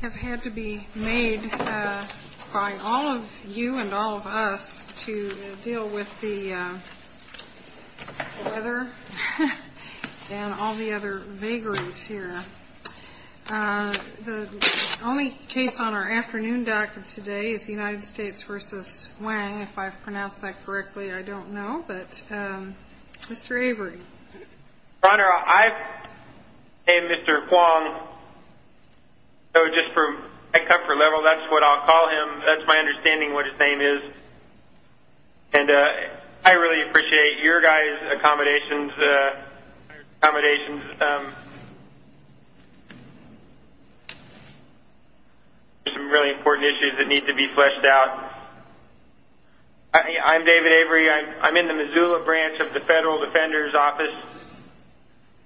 have had to be made by all of you and all of us to deal with the weather and all the other vagaries here. The only case on our afternoon dock of today is the United States v. Huang. If I've pronounced that correctly, I don't know, but Mr. Avery. Your Honor, I've named Mr. Huang, so just for my comfort level, that's what I'll call him. That's my understanding of what his name is. And I really appreciate your guys' accommodations. There are some really important issues that need to be fleshed out. I'm David Avery. I'm in the Missoula branch of the Federal Defender's Office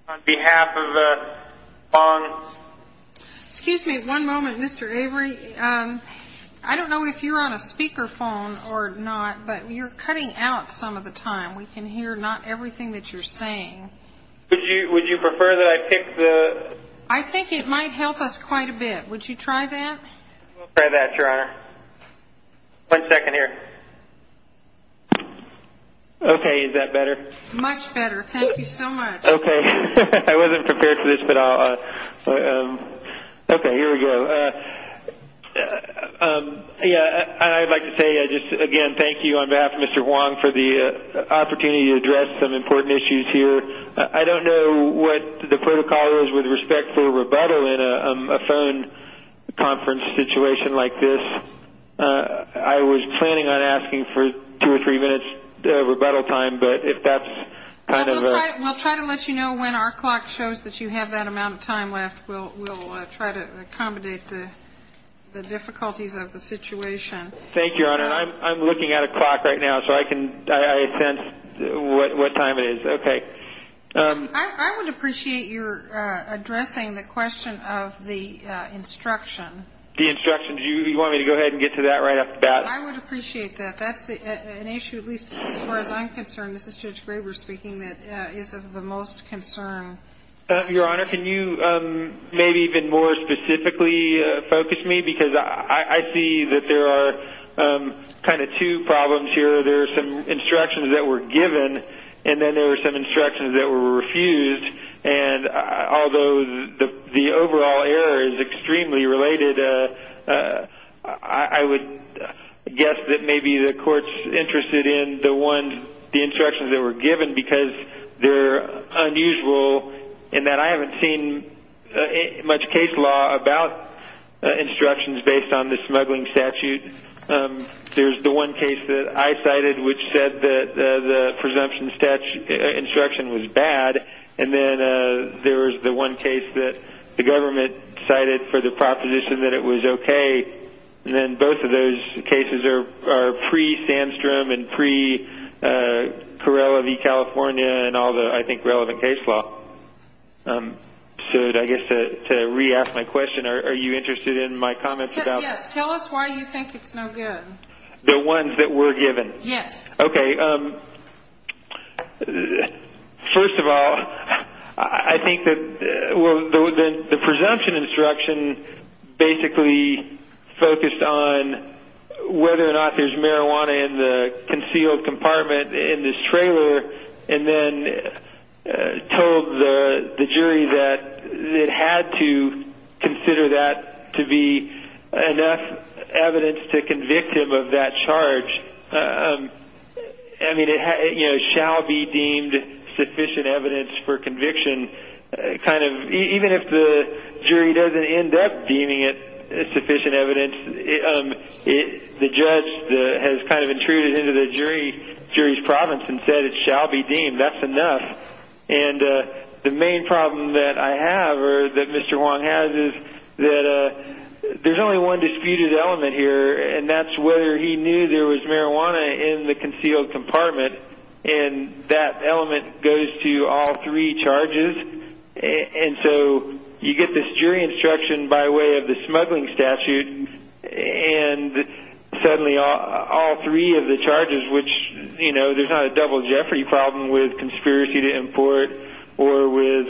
on behalf of Huang. Excuse me one moment, Mr. Avery. I don't know if you're on a speaker phone or not, but you're cutting out some of the time. We can hear not everything that you're saying. Would you prefer that I pick the – I think it might help us quite a bit. Would you try that? We'll try that, Your Honor. One second here. Okay, is that better? Much better. Thank you so much. Okay. I wasn't prepared for this, but I'll – okay, here we go. I'd like to say, again, thank you on behalf of Mr. Huang for the opportunity to address some important issues here. I don't know what the protocol is with respect to rebuttal in a phone conference situation like this. I was planning on asking for two or three minutes rebuttal time, but if that's kind of a – We'll try to let you know when our clock shows that you have that amount of time left. We'll try to accommodate the difficulties of the situation. Thank you, Your Honor. I'm looking at a clock right now, so I can – I sense what time it is. Okay. I would appreciate your addressing the question of the instruction. The instruction. Do you want me to go ahead and get to that right off the bat? I would appreciate that. That's an issue, at least as far as I'm concerned, this is Judge Graber speaking, that is of the most concern. Your Honor, can you maybe even more specifically focus me? Because I see that there are kind of two problems here. There are some instructions that were given, and then there were some instructions that were refused. And although the overall error is extremely related, I would guess that maybe the court's interested in the ones – they're unusual in that I haven't seen much case law about instructions based on the smuggling statute. There's the one case that I cited which said that the presumption instruction was bad, and then there was the one case that the government cited for the proposition that it was okay. And then both of those cases are pre-Sandstrom and pre-Corrella v. California and all the, I think, relevant case law. So I guess to re-ask my question, are you interested in my comments about – Yes. Tell us why you think it's no good. The ones that were given? Yes. Okay. First of all, I think that the presumption instruction basically focused on whether or not there's marijuana in the concealed compartment in this trailer, and then told the jury that it had to consider that to be enough evidence to convict him of that charge. I mean, it shall be deemed sufficient evidence for conviction. Even if the jury doesn't end up deeming it sufficient evidence, the judge has kind of intruded into the jury's province and said it shall be deemed, that's enough. And the main problem that I have, or that Mr. Huang has, is that there's only one disputed element here, and that's whether he knew there was marijuana in the concealed compartment, and that element goes to all three charges. And so you get this jury instruction by way of the smuggling statute, and suddenly all three of the charges, which, you know, there's not a double jeopardy problem with conspiracy to import or with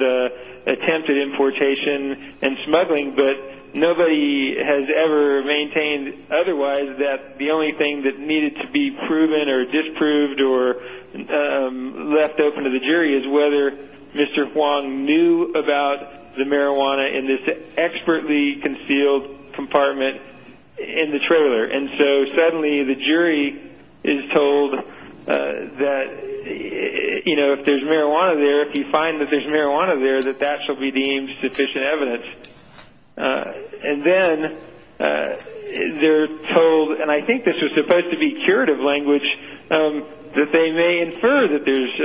attempted importation and smuggling, but nobody has ever maintained otherwise that the only thing that needed to be proven or disproved or left open to the jury is whether Mr. Huang knew about the marijuana in this expertly concealed compartment in the trailer. And so suddenly the jury is told that, you know, if there's marijuana there, if you find that there's marijuana there, that that shall be deemed sufficient evidence. And then they're told, and I think this was supposed to be curative language, that they may infer that there's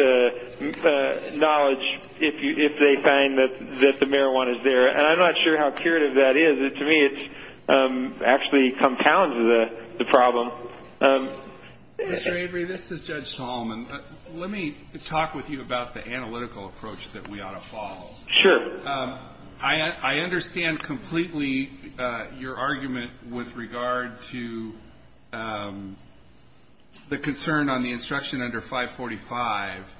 knowledge if they find that the marijuana is there. And I'm not sure how curative that is. To me, it actually compounds the problem. Mr. Avery, this is Judge Solomon. Let me talk with you about the analytical approach that we ought to follow. Sure. I understand completely your argument with regard to the concern on the instruction under 545.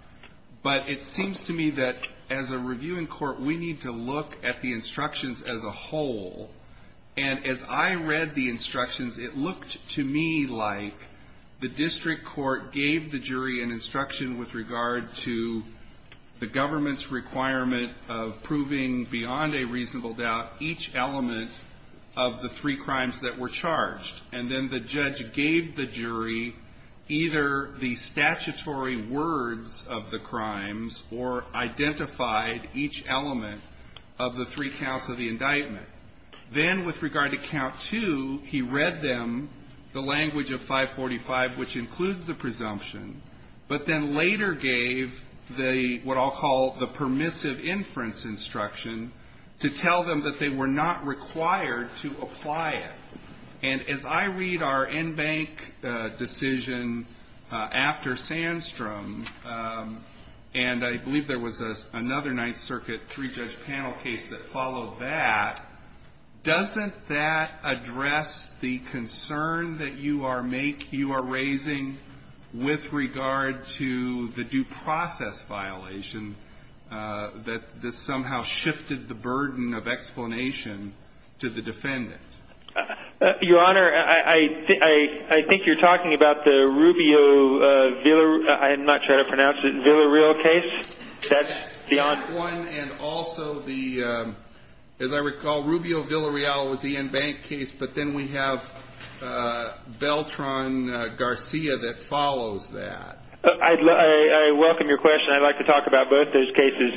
But it seems to me that as a reviewing court, we need to look at the instructions as a whole. And as I read the instructions, it looked to me like the district court gave the jury an instruction with regard to the government's requirement of proving beyond a reasonable doubt each element of the three crimes that were charged. And then the judge gave the jury either the statutory words of the crimes or identified each element of the three counts of the indictment. Then with regard to count two, he read them the language of 545, which includes the presumption, but then later gave what I'll call the permissive inference instruction to tell them that they were not required to apply it. And as I read our in-bank decision after Sandstrom, and I believe there was another Ninth Circuit three-judge panel case that followed that, doesn't that address the concern that you are raising with regard to the due process violation that this somehow shifted the burden of explanation to the defendant? Your Honor, I think you're talking about the Rubio-Villareal case. One, and also the, as I recall, Rubio-Villareal was the in-bank case, but then we have Beltran-Garcia that follows that. I welcome your question. I'd like to talk about both those cases.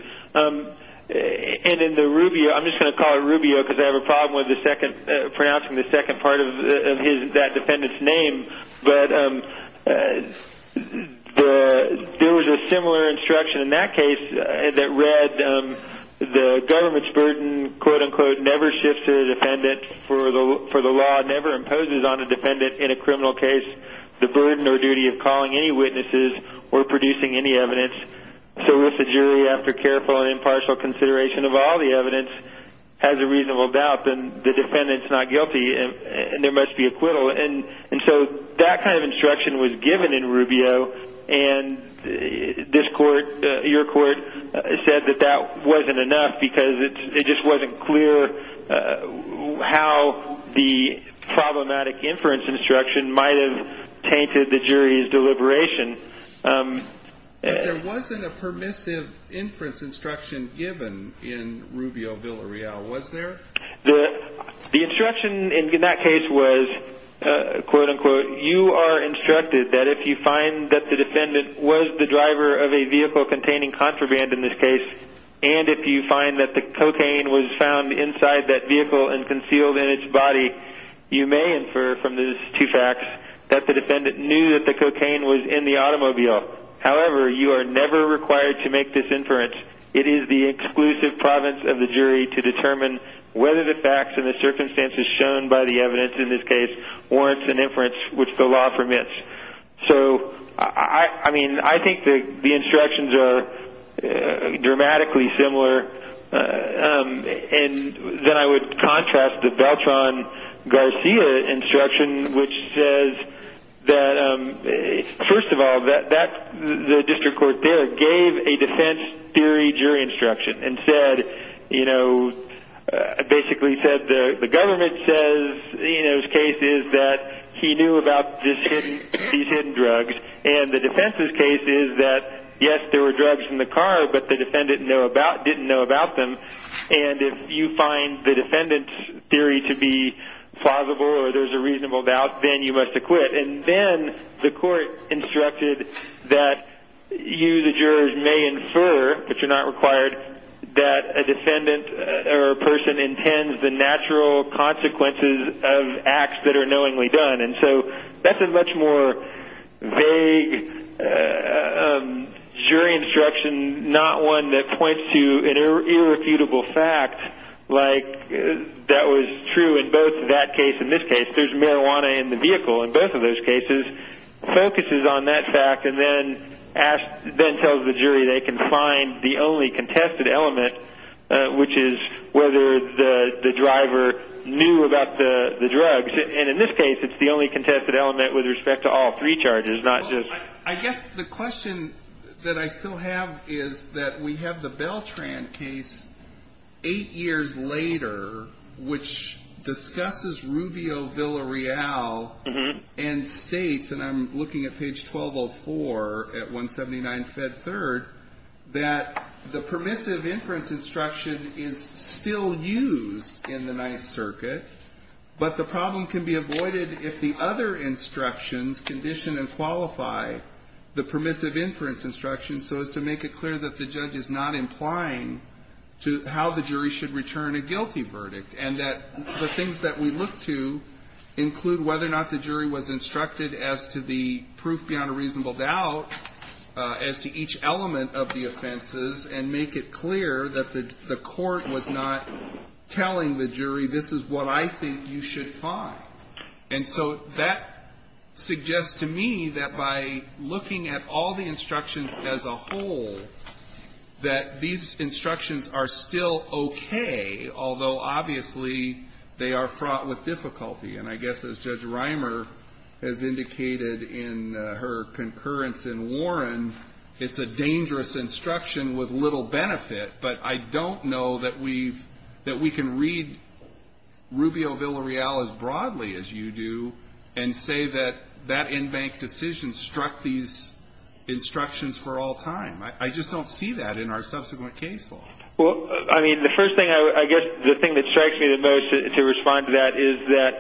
And in the Rubio, I'm just going to call it Rubio because I have a problem with pronouncing the second part of that defendant's name, but there was a similar instruction in that case that read the government's burden, quote-unquote, never shifts to the defendant, for the law never imposes on a defendant in a criminal case the burden or duty of calling any witnesses or producing any evidence. So if the jury, after careful and impartial consideration of all the evidence, has a reasonable doubt, then the defendant's not guilty and there must be acquittal. And so that kind of instruction was given in Rubio, and this court, your court, said that that wasn't enough because it just wasn't clear how the problematic inference instruction might have tainted the jury's deliberation. But there wasn't a permissive inference instruction given in Rubio-Villareal, was there? The instruction in that case was, quote-unquote, you are instructed that if you find that the defendant was the driver of a vehicle containing contraband in this case, and if you find that the cocaine was found inside that vehicle and concealed in its body, you may infer from these two facts that the defendant knew that the cocaine was in the automobile. However, you are never required to make this inference. It is the exclusive province of the jury to determine whether the facts and the circumstances shown by the evidence, in this case, warrants an inference which the law permits. So, I mean, I think the instructions are dramatically similar. And then I would contrast the Beltran-Garcia instruction, which says that, first of all, the district court there gave a defense theory jury instruction and basically said the government's case is that he knew about these hidden drugs, and the defense's case is that, yes, there were drugs in the car, but the defendant didn't know about them. And if you find the defendant's theory to be plausible or there's a reasonable doubt, then you must acquit. And then the court instructed that you, the jurors, may infer, but you're not required, that a defendant or a person intends the natural consequences of acts that are knowingly done. And so that's a much more vague jury instruction, not one that points to an irrefutable fact like that was true in both that case and this case. And if there's marijuana in the vehicle in both of those cases, focuses on that fact and then tells the jury they can find the only contested element, which is whether the driver knew about the drugs. And in this case, it's the only contested element with respect to all three charges, not just one. 8 years later, which discusses Rubio-Villareal and states, and I'm looking at page 1204 at 179 Fed 3rd, that the permissive inference instruction is still used in the Ninth Circuit, but the problem can be avoided if the other instructions condition and qualify the permissive inference instruction so as to make it clear that the judge is not implying to how the jury should return a guilty verdict and that the things that we look to include whether or not the jury was instructed as to the proof beyond a reasonable doubt, as to each element of the offenses, and make it clear that the court was not telling the jury, this is what I think you should find. And so that suggests to me that by looking at all the instructions as a whole, that these instructions are still okay, although obviously they are fraught with difficulty. And I guess as Judge Reimer has indicated in her concurrence in Warren, it's a dangerous instruction with little benefit, but I don't know that we've, that we can read Rubio-Villareal as broadly as you do and say that that in-bank decision struck these instructions for all time. I just don't see that in our subsequent case law. Well, I mean, the first thing, I guess the thing that strikes me the most to respond to that is that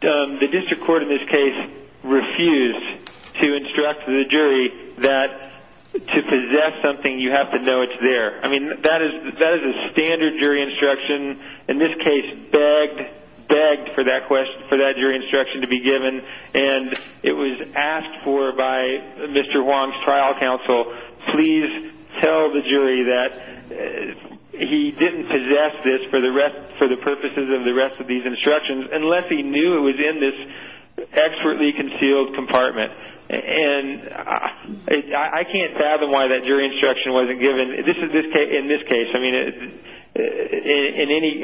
the district court in this case refused to instruct the jury that to possess something, you have to know it's there. I mean, that is a standard jury instruction. In this case, begged for that jury instruction to be given, and it was asked for by Mr. Wong's trial counsel, please tell the jury that he didn't possess this for the purposes of the rest of these instructions, unless he knew it was in this expertly concealed compartment. And I can't fathom why that jury instruction wasn't given. In this case, I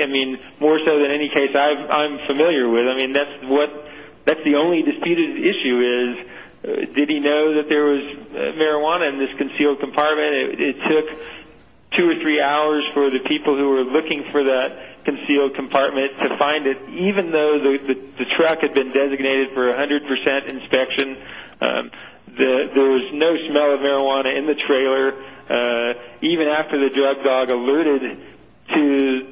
mean, more so than any case I'm familiar with, I mean, that's the only disputed issue is, did he know that there was marijuana in this concealed compartment? It took two or three hours for the people who were looking for that concealed compartment to find it, even though the truck had been designated for 100% inspection. There was no smell of marijuana in the trailer. Even after the drug dog alluded to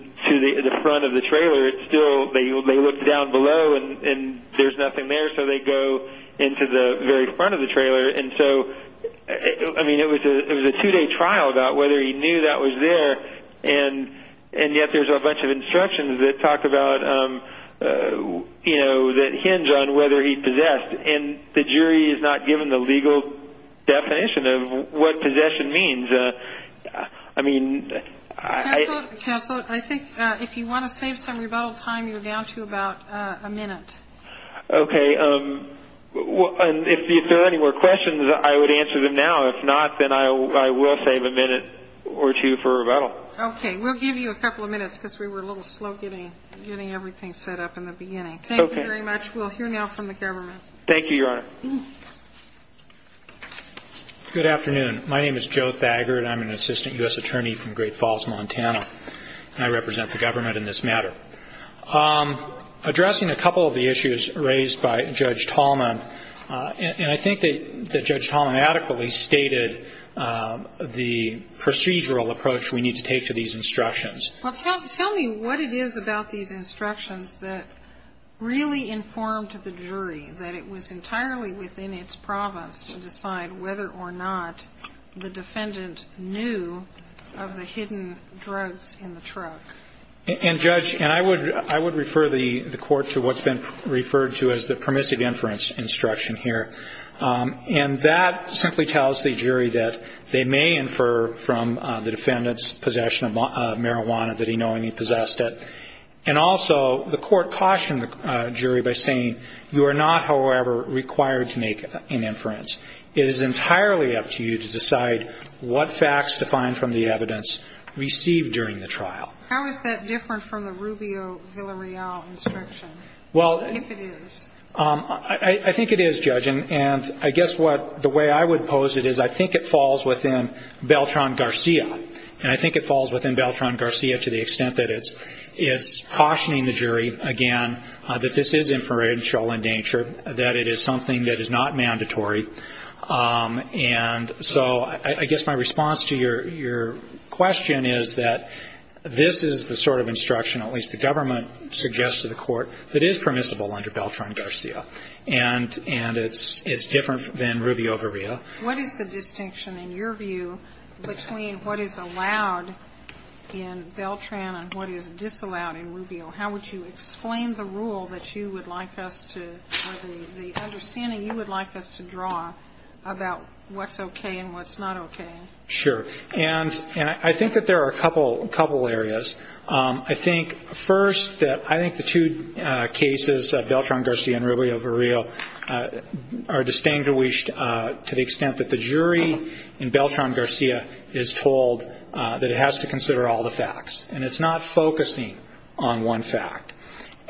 the front of the trailer, still they looked down below and there's nothing there, so they go into the very front of the trailer. And so, I mean, it was a two-day trial about whether he knew that was there, and yet there's a bunch of instructions that talk about, you know, that hinge on whether he possessed. And the jury has not given the legal definition of what possession means. I mean, I think if you want to save some rebuttal time, you're down to about a minute. Okay. And if there are any more questions, I would answer them now. If not, then I will save a minute or two for rebuttal. Okay. We'll give you a couple of minutes because we were a little slow getting everything set up in the beginning. Okay. Thank you very much. We'll hear now from the government. Thank you, Your Honor. Good afternoon. My name is Joe Thagard. I'm an assistant U.S. attorney from Great Falls, Montana, and I represent the government in this matter. Addressing a couple of the issues raised by Judge Tallman, and I think that Judge Tallman adequately stated the procedural approach we need to take to these instructions. Well, tell me what it is about these instructions that really informed the jury that it was entirely within its province to decide whether or not the defendant knew of the hidden drugs in the truck. And, Judge, and I would refer the Court to what's been referred to as the permissive inference instruction here. And that simply tells the jury that they may infer from the defendant's possession of marijuana that he knowingly possessed it. And also the Court cautioned the jury by saying you are not, however, required to make an inference. It is entirely up to you to decide what facts defined from the evidence received during the trial. How is that different from the Rubio-Villareal instruction, if it is? I think it is, Judge, and I guess what the way I would pose it is I think it falls within Beltran-Garcia. And I think it falls within Beltran-Garcia to the extent that it's cautioning the jury, again, that this is inferential in nature, that it is something that is not mandatory. And so I guess my response to your question is that this is the sort of instruction, at least the government suggests to the Court, that is permissible under Beltran-Garcia. And it's different than Rubio-Villareal. What is the distinction, in your view, between what is allowed in Beltran and what is disallowed in Rubio? How would you explain the rule that you would like us to or the understanding you would like us to draw about what's okay and what's not okay? Sure. And I think that there are a couple areas. I think, first, that I think the two cases, Beltran-Garcia and Rubio-Villareal, are distinguished to the extent that the jury in Beltran-Garcia is told that it has to consider all the facts. And it's not focusing on one fact.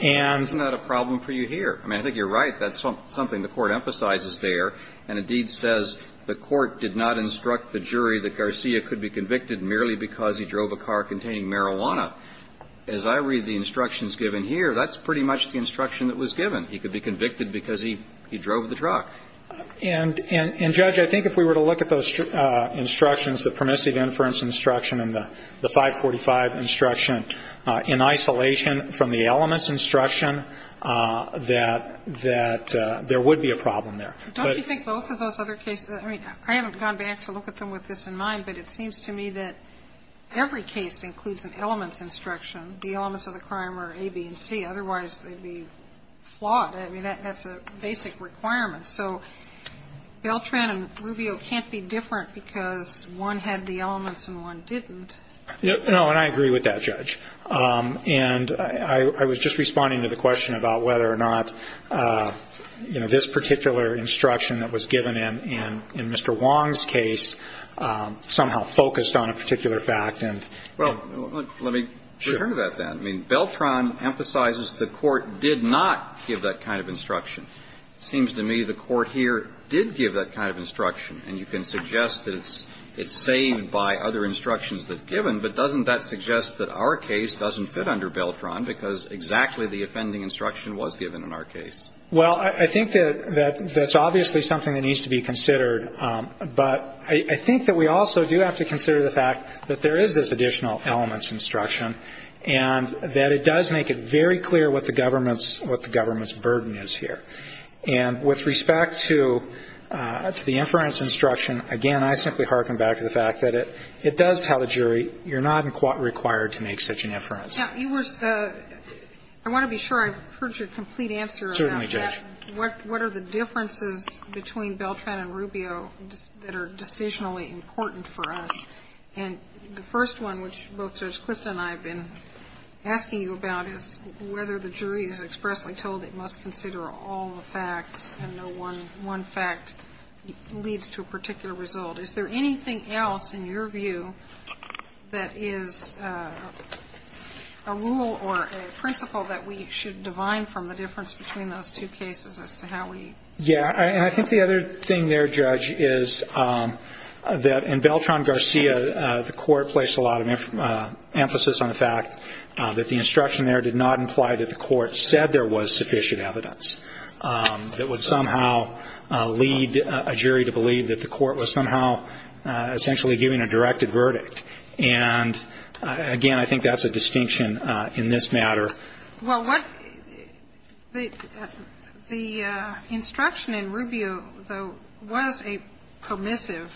And that's not a problem for you here. I mean, I think you're right. That's something the Court emphasizes there. And indeed says the Court did not instruct the jury that Garcia could be convicted merely because he drove a car containing marijuana. As I read the instructions given here, that's pretty much the instruction that was given. He could be convicted because he drove the truck. And, Judge, I think if we were to look at those instructions, the permissive inference instruction and the 545 instruction, in isolation from the elements instruction, that there would be a problem there. Don't you think both of those other cases, I mean, I haven't gone back to look at them with this in mind, but it seems to me that every case includes an elements instruction. The elements of the crime are A, B, and C. Otherwise, they'd be flawed. I mean, that's a basic requirement. So Beltran and Rubio can't be different because one had the elements and one didn't. No. And I agree with that, Judge. And I was just responding to the question about whether or not, you know, this particular instruction that was given in Mr. Wong's case somehow focused on a particular fact. Well, let me return to that, then. I mean, Beltran emphasizes the Court did not give that kind of instruction. It seems to me the Court here did give that kind of instruction. And you can suggest that it's saved by other instructions that are given, but doesn't that suggest that our case doesn't fit under Beltran because exactly the offending instruction was given in our case? Well, I think that that's obviously something that needs to be considered. But I think that we also do have to consider the fact that there is this additional elements instruction and that it does make it very clear what the government's burden is here. And with respect to the inference instruction, again, I simply hearken back to the fact that it does tell the jury you're not required to make such an inference. Now, you were the – I want to be sure I've heard your complete answer about that. Certainly, Judge. What are the differences between Beltran and Rubio that are decisionally important for us? And the first one, which both Judge Clifton and I have been asking you about, is whether the jury is expressly told it must consider all the facts and no one fact leads to a particular result. Is there anything else in your view that is a rule or a principle that we should divide from the difference between those two cases as to how we? Yeah. And I think the other thing there, Judge, is that in Beltran-Garcia, the court placed a lot of emphasis on the fact that the instruction there did not imply that the court said there was sufficient evidence that would somehow lead a jury to believe that the court was somehow essentially giving a directed verdict. And, again, I think that's a distinction in this matter. Well, what – the instruction in Rubio, though, was a permissive,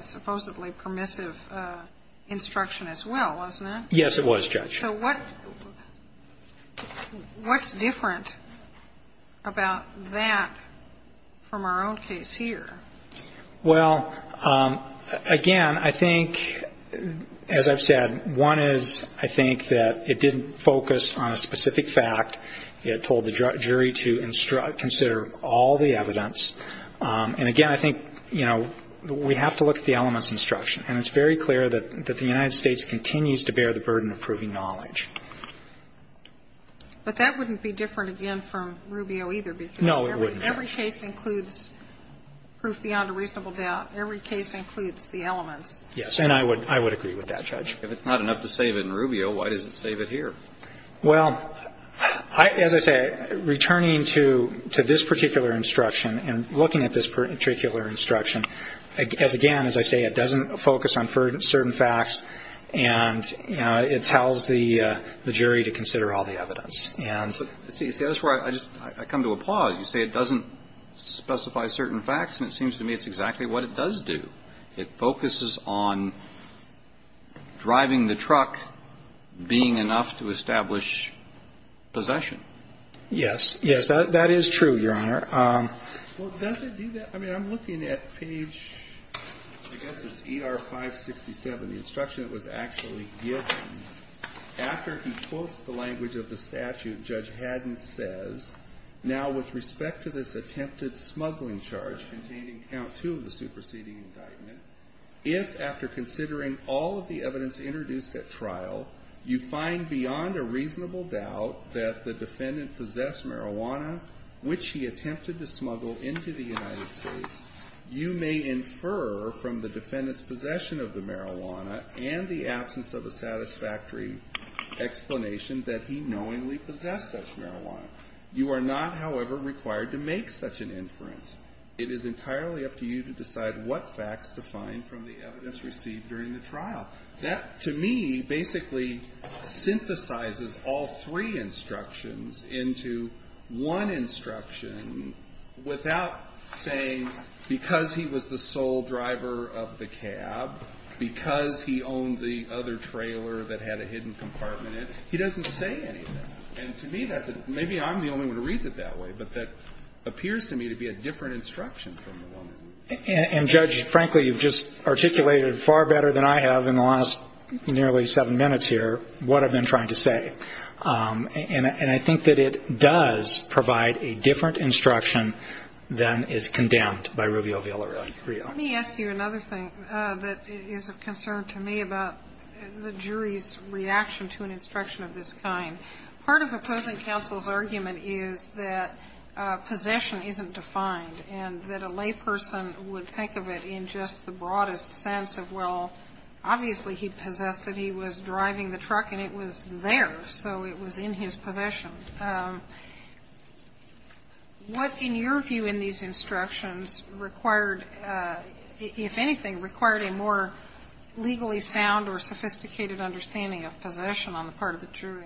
supposedly permissive instruction as well, wasn't it? Yes, it was, Judge. So what's different about that from our own case here? Well, again, I think, as I've said, one is, I think, that it didn't focus on a specific fact. It told the jury to consider all the evidence. And, again, I think, you know, we have to look at the elements of instruction. And it's very clear that the United States continues to bear the burden of proving knowledge. But that wouldn't be different, again, from Rubio either. No, it wouldn't, Judge. Because every case includes proof beyond a reasonable doubt. Every case includes the elements. Yes. And I would agree with that, Judge. If it's not enough to save it in Rubio, why does it save it here? Well, as I say, returning to this particular instruction and looking at this particular instruction, as again, as I say, it doesn't focus on certain facts. And it tells the jury to consider all the evidence. And so that's where I just come to a pause. You say it doesn't specify certain facts. And it seems to me it's exactly what it does do. It focuses on driving the truck being enough to establish possession. Yes. Yes, that is true, Your Honor. Well, does it do that? I mean, I'm looking at page, I guess it's ER 567, the instruction that was actually given. After he quotes the language of the statute, Judge Haddon says, now with respect to this attempted smuggling charge containing count two of the superseding indictment, if after considering all of the evidence introduced at trial, you find beyond a reasonable doubt that the defendant possessed marijuana, which he attempted to smuggle into the United States, you may infer from the defendant's possession of the marijuana and the absence of a satisfactory explanation that he knowingly possessed such marijuana. You are not, however, required to make such an inference. It is entirely up to you to decide what facts to find from the evidence received during the trial. That, to me, basically synthesizes all three instructions into one instruction without saying because he was the sole driver of the cab, because he owned the other trailer that had a hidden compartment in it. He doesn't say any of that. And to me that's a – maybe I'm the only one who reads it that way, but that appears to me to be a different instruction from the woman. And, Judge, frankly, you've just articulated far better than I have in the last nearly seven minutes here what I've been trying to say. And I think that it does provide a different instruction than is condemned by Rubio Villareal. Let me ask you another thing that is of concern to me about the jury's reaction to an instruction of this kind. Part of opposing counsel's argument is that possession isn't defined and that a lay person would think of it in just the broadest sense of, well, obviously he possessed it, he was driving the truck and it was there, so it was in his possession. What, in your view, in these instructions required, if anything, required a more legally sound or sophisticated understanding of possession on the part of the jury?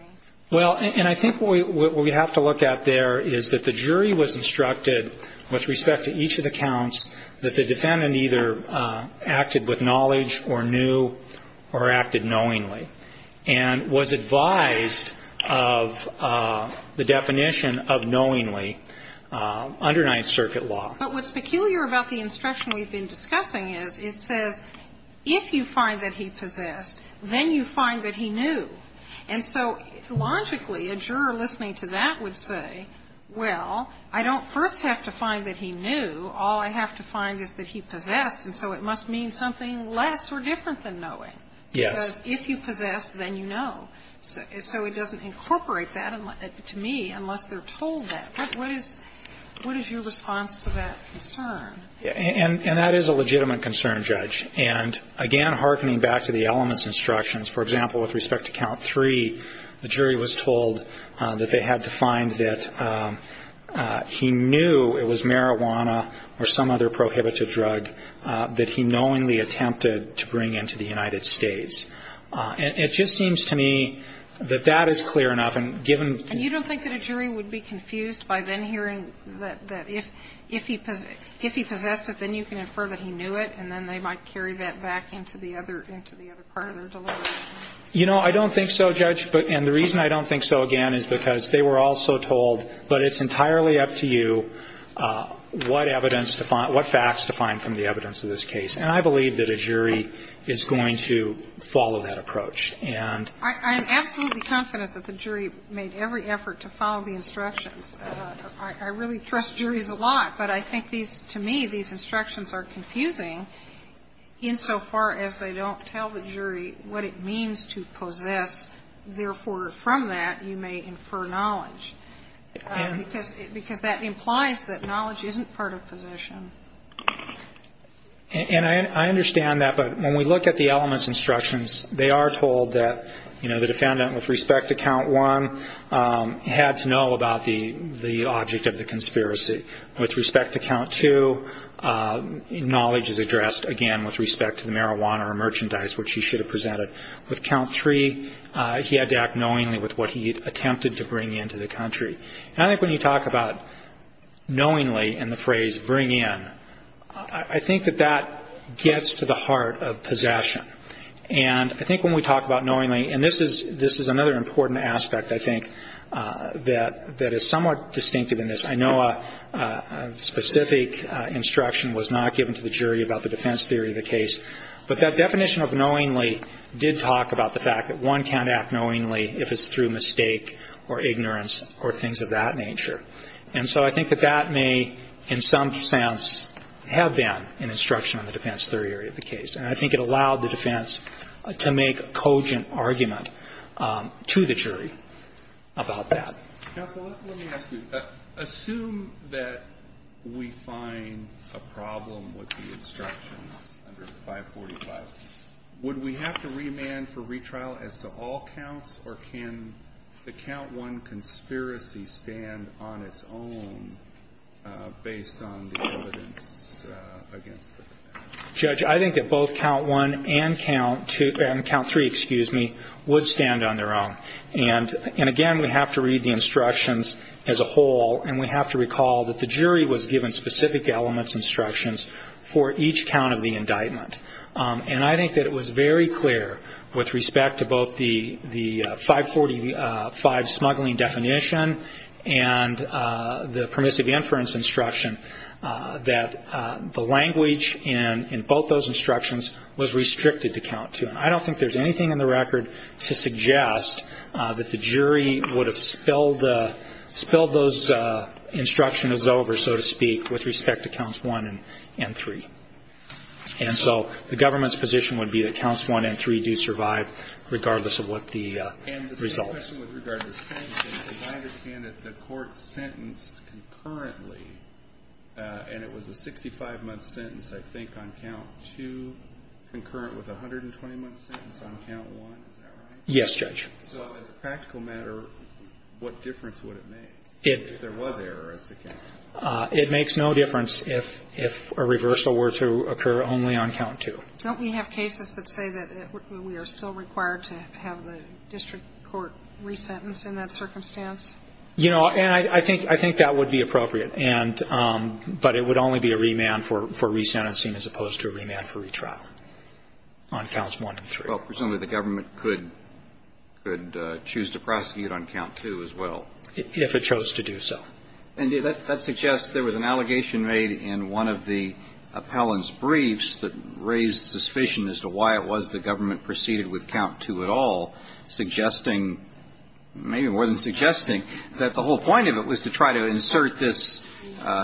Well, and I think what we have to look at there is that the jury was instructed with respect to each of the counts that the defendant either acted with knowledge or knew or acted knowingly and was advised of the definition of knowingly under Ninth Circuit law. But what's peculiar about the instruction we've been discussing is it says if you find that he possessed, then you find that he knew. And so logically, a juror listening to that would say, well, I don't first have to find that he knew, all I have to find is that he possessed, and so it must mean something less or different than knowing. Yes. Because if you possess, then you know. So it doesn't incorporate that to me unless they're told that. What is your response to that concern? And that is a legitimate concern, Judge. And, again, hearkening back to the elements instructions, for example, with respect to count three, the jury was told that they had to find that he knew it was marijuana or some other prohibitive drug that he knowingly attempted to bring into the United States. And it just seems to me that that is clear enough. And given the ---- And you don't think that a jury would be confused by then hearing that if he possessed it, then you can infer that he knew it, and then they might carry that back into the other part of their delivery? You know, I don't think so, Judge. And the reason I don't think so, again, is because they were also told, but it's entirely up to you what evidence to find, what facts to find from the evidence of this case. And I believe that a jury is going to follow that approach. And ---- I am absolutely confident that the jury made every effort to follow the instructions. I really trust juries a lot, but I think these, to me, these instructions are confusing insofar as they don't tell the jury what it means to possess. Therefore, from that, you may infer knowledge, because that implies that knowledge isn't part of possession. And I understand that. But when we look at the elements instructions, they are told that, you know, the defendant with respect to count one had to know about the object of the conspiracy. With respect to count two, knowledge is addressed, again, with respect to the marijuana or merchandise which he should have presented. With count three, he had to act knowingly with what he attempted to bring into the country. And I think when you talk about knowingly and the phrase bring in, I think that that gets to the heart of possession. And I think when we talk about knowingly, and this is another important aspect, I think, that is somewhat distinctive in this. I know a specific instruction was not given to the jury about the defense theory of the case, but that definition of knowingly did talk about the fact that one can't act knowingly if it's through mistake or ignorance or things of that nature. And so I think that that may, in some sense, have been an instruction on the defense theory of the case. And I think it allowed the defense to make a cogent argument to the jury about that. Counsel, let me ask you. Assume that we find a problem with the instructions under 545. Would we have to remand for retrial as to all counts, or can the count one conspiracy stand on its own based on the evidence against the defense? Judge, I think that both count one and count three would stand on their own. And, again, we have to read the instructions as a whole, and we have to recall that the jury was given specific elements instructions for each count of the indictment. And I think that it was very clear with respect to both the 545 smuggling definition and the permissive inference instruction that the language in both those instructions was restricted to count two. And I don't think there's anything in the record to suggest that the jury would have spilled those instructions over, so to speak, with respect to counts one and three. And so the government's position would be that counts one and three do survive, regardless of what the results. I have a question with regard to sentences. I understand that the court sentenced concurrently, and it was a 65-month sentence, I think, on count two, concurrent with a 120-month sentence on count one. Is that right? Yes, Judge. So as a practical matter, what difference would it make if there was error as to count one? It makes no difference if a reversal were to occur only on count two. Don't we have cases that say that we are still required to have the district court resentenced in that circumstance? You know, and I think that would be appropriate. But it would only be a remand for resentencing as opposed to a remand for retrial on counts one and three. Well, presumably the government could choose to prosecute on count two as well. If it chose to do so. And that suggests there was an allegation made in one of the appellant's briefs that raised suspicion as to why it was the government proceeded with count two at all, suggesting, maybe more than suggesting, that the whole point of it was to try to insert this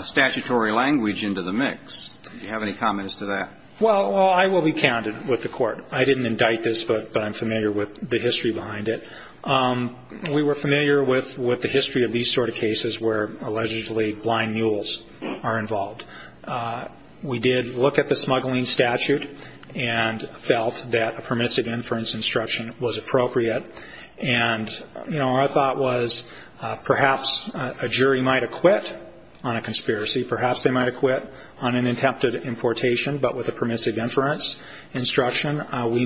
statutory language into the mix. Do you have any comments to that? Well, I will be candid with the court. I didn't indict this, but I'm familiar with the history behind it. We were familiar with the history of these sort of cases where allegedly blind mules are involved. We did look at the smuggling statute and felt that a permissive inference instruction was appropriate. And, you know, our thought was perhaps a jury might acquit on a conspiracy. Perhaps they might acquit on an attempted importation, but with a permissive That suggests that we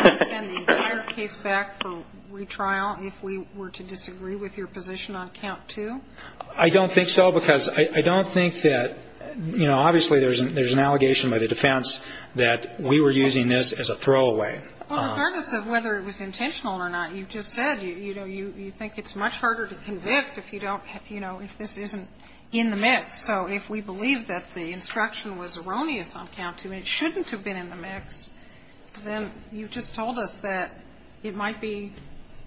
would send the entire case back for retrial if we were to disagree with your position on count two? I don't think so, because I don't think that, you know, obviously there's an allegation by the defense that we were using this as a throwaway. Well, regardless of whether it was intentional or not, you just said, you know, you think it's much harder to convict if you don't, you know, if this isn't in the mix. So if we believe that the instruction was erroneous on count two and it shouldn't have been in the mix, then you just told us that it might be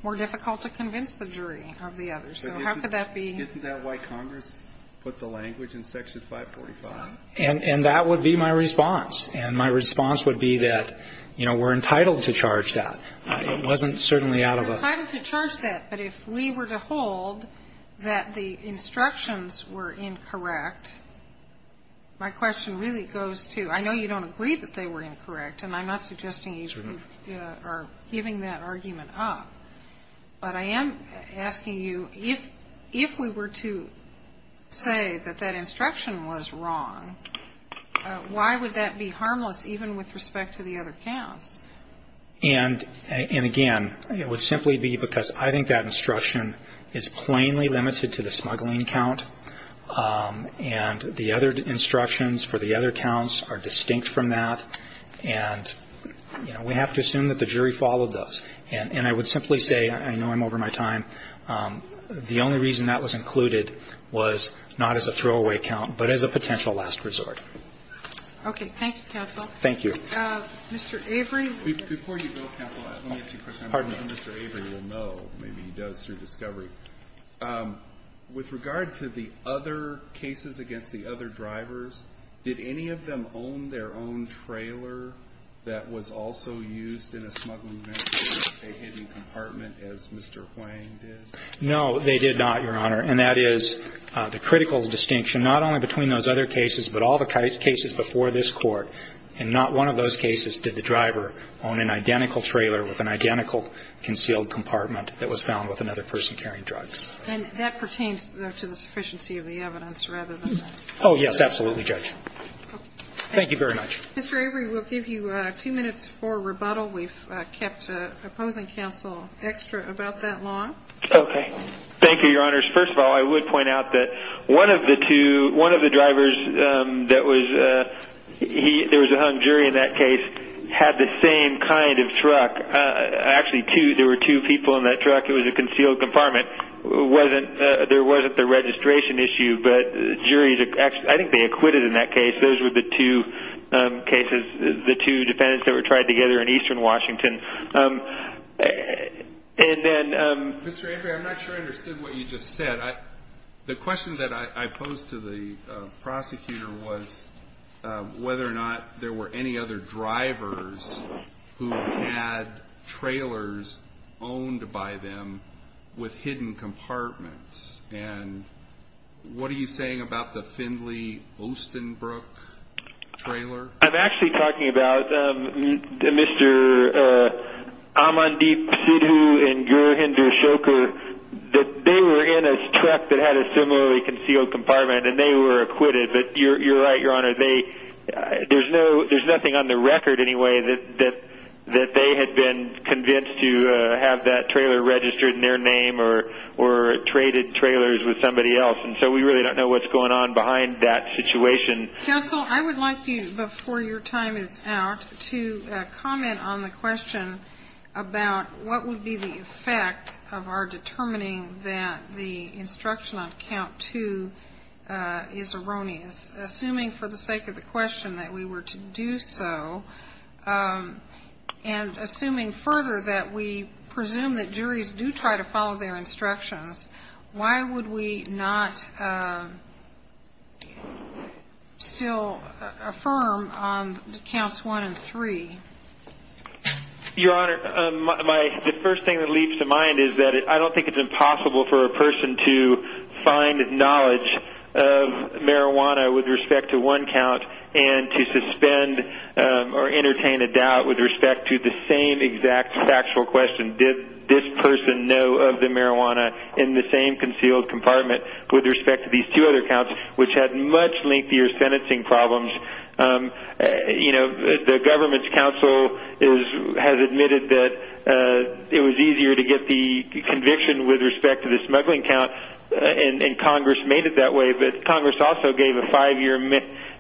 more difficult to convince the jury of the other. So how could that be? Isn't that why Congress put the language in Section 545? And that would be my response. And my response would be that, you know, we're entitled to charge that. It wasn't certainly out of a We're entitled to charge that, but if we were to hold that the instructions were incorrect, my question really goes to, I know you don't agree that they were incorrect, and I'm not suggesting you are giving that argument up, but I am asking you, if we were to say that that instruction was wrong, why would that be harmless even with respect to the other counts? And, again, it would simply be because I think that instruction is plainly limited to the smuggling count, and the other instructions for the other counts are distinct from that, and, you know, we have to assume that the jury followed those. And I would simply say, I know I'm over my time, the only reason that was included was not as a throwaway count, but as a potential last resort. Okay. Thank you, counsel. Thank you. Mr. Avery. Before you go, counsel, let me ask you a question. Mr. Avery will know. Maybe he does through discovery. With regard to the other cases against the other drivers, did any of them own their own trailer that was also used in a smuggling method, a hidden compartment as Mr. Hwang did? No, they did not, Your Honor. And that is the critical distinction, not only between those other cases, but all the cases before this Court, in not one of those cases did the driver own an identical trailer with an identical concealed compartment that was found with another person carrying drugs. And that pertains to the sufficiency of the evidence rather than that. Oh, yes. Absolutely, Judge. Thank you very much. Mr. Avery, we'll give you two minutes for rebuttal. We've kept opposing counsel extra about that long. Okay. Thank you, Your Honors. First of all, I would point out that one of the drivers that was a hung jury in that case had the same kind of truck. Actually, there were two people in that truck. It was a concealed compartment. There wasn't the registration issue, but I think they acquitted in that case. Those were the two cases, the two defendants that were tried together in eastern Washington. Mr. Avery, I'm not sure I understood what you just said. The question that I posed to the prosecutor was whether or not there were any other drivers who had trailers owned by them with hidden compartments. And what are you saying about the Findlay-Ostenbrook trailer? I'm actually talking about Mr. Amandeep Sidhu and Gurinder Shoker. They were in a truck that had a similarly concealed compartment, and they were acquitted. But you're right, Your Honor. There's nothing on the record, anyway, that they had been convinced to have that trailer registered in their name or traded trailers with somebody else. And so we really don't know what's going on behind that situation. Counsel, I would like you, before your time is out, to comment on the question about what would be the effect of our determining that the instruction on count two is erroneous. Assuming for the sake of the question that we were to do so, and assuming further that we presume that juries do try to follow their instructions, why would we not still affirm on counts one and three? Your Honor, the first thing that leaps to mind is that I don't think it's impossible for a person to find knowledge of marijuana with respect to one count and to suspend or entertain a doubt with respect to the same exact factual question, did this person know of the marijuana in the same concealed compartment with respect to these two other counts, which had much lengthier sentencing problems. The government's counsel has admitted that it was easier to get the conviction with respect to the smuggling count, and Congress made it that way. But Congress also gave a five-year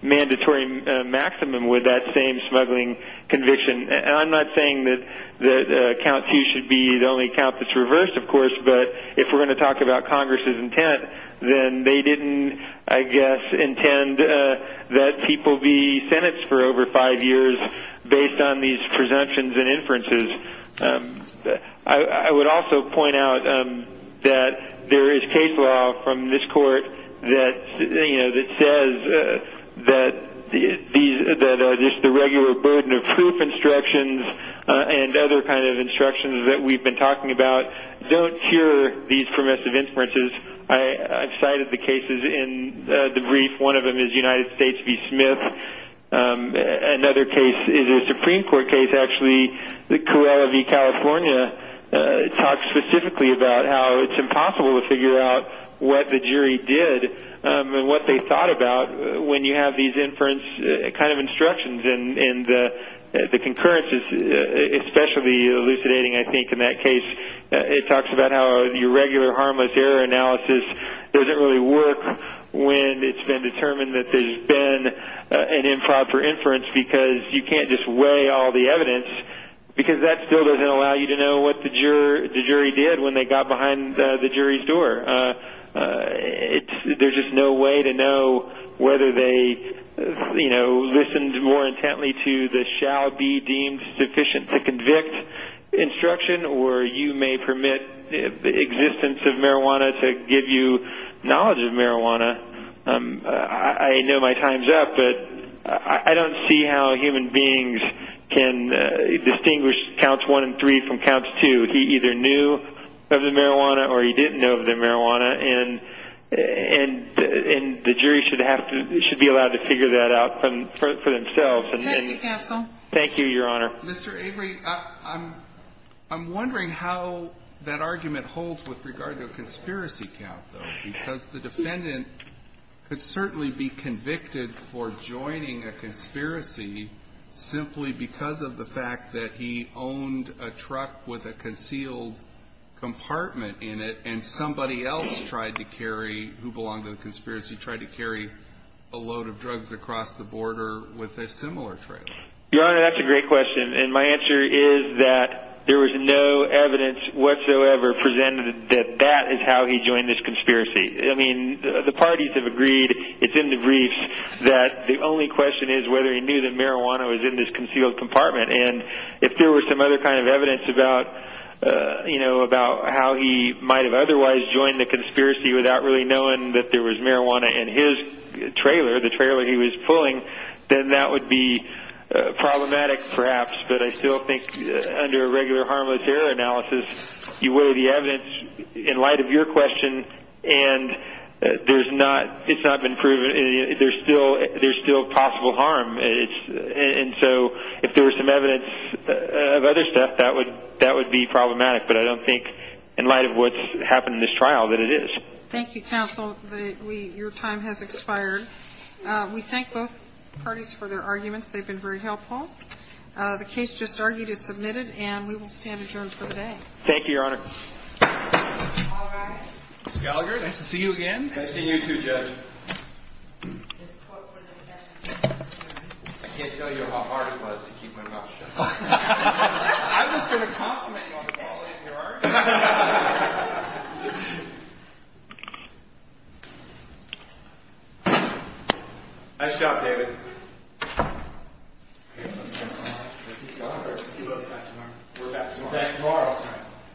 mandatory maximum with that same smuggling conviction. And I'm not saying that count two should be the only count that's reversed, of course, but if we're going to talk about Congress's intent, then they didn't, I guess, intend that people be sentenced for over five years based on these presumptions and inferences. I would also point out that there is case law from this court that says that the regular burden of proof instructions and other kinds of instructions that we've been talking about don't cure these permissive inferences. I've cited the cases in the brief. One of them is United States v. Smith. Another case is a Supreme Court case, actually, that Cuellar v. California talks specifically about how it's impossible to figure out what the jury did and what they thought about when you have these inference kind of instructions. And the concurrence is especially elucidating, I think, in that case. It talks about how your regular harmless error analysis doesn't really work when it's been determined that there's been an improper inference because you can't just weigh all the evidence because that still doesn't allow you to know what the jury did when they got behind the jury's door. There's just no way to know whether they listened more intently to the shall be deemed sufficient to convict instruction or you may permit the existence of marijuana to give you knowledge of marijuana. I know my time's up, but I don't see how human beings can distinguish counts one and three from counts two. He either knew of the marijuana or he didn't know of the marijuana, and the jury should be allowed to figure that out for themselves. Thank you, counsel. Thank you, Your Honor. Mr. Avery, I'm wondering how that argument holds with regard to a conspiracy count, though, because the defendant could certainly be convicted for joining a conspiracy simply because of the fact that he owned a truck with a concealed compartment in it and somebody else tried to carry, who belonged to the conspiracy, tried to carry a load of drugs across the border with a similar trailer. Your Honor, that's a great question, and my answer is that there was no evidence whatsoever presented that that is how he joined this conspiracy. I mean, the parties have agreed, it's in the briefs, that the only question is whether he knew that marijuana was in this concealed compartment, and if there was some other kind of evidence about how he might have otherwise joined the conspiracy without really knowing that there was marijuana in his trailer, the trailer he was pulling, then that would be problematic, perhaps, but I still think under a regular harmless error analysis you weigh the evidence in light of your question, and it's not been proven. There's still possible harm, and so if there was some evidence of other stuff, that would be problematic, but I don't think in light of what's happened in this trial that it is. Thank you, counsel. Your time has expired. We thank both parties for their arguments. They've been very helpful. The case just argued is submitted, and we will stand adjourned for the day. Thank you, Your Honor. Mr. Gallagher, nice to see you again. Nice seeing you too, Judge. I can't tell you how hard it was to keep my mouth shut. I was going to compliment you on the quality of your argument. Thank you. Nice job, David. We're back tomorrow.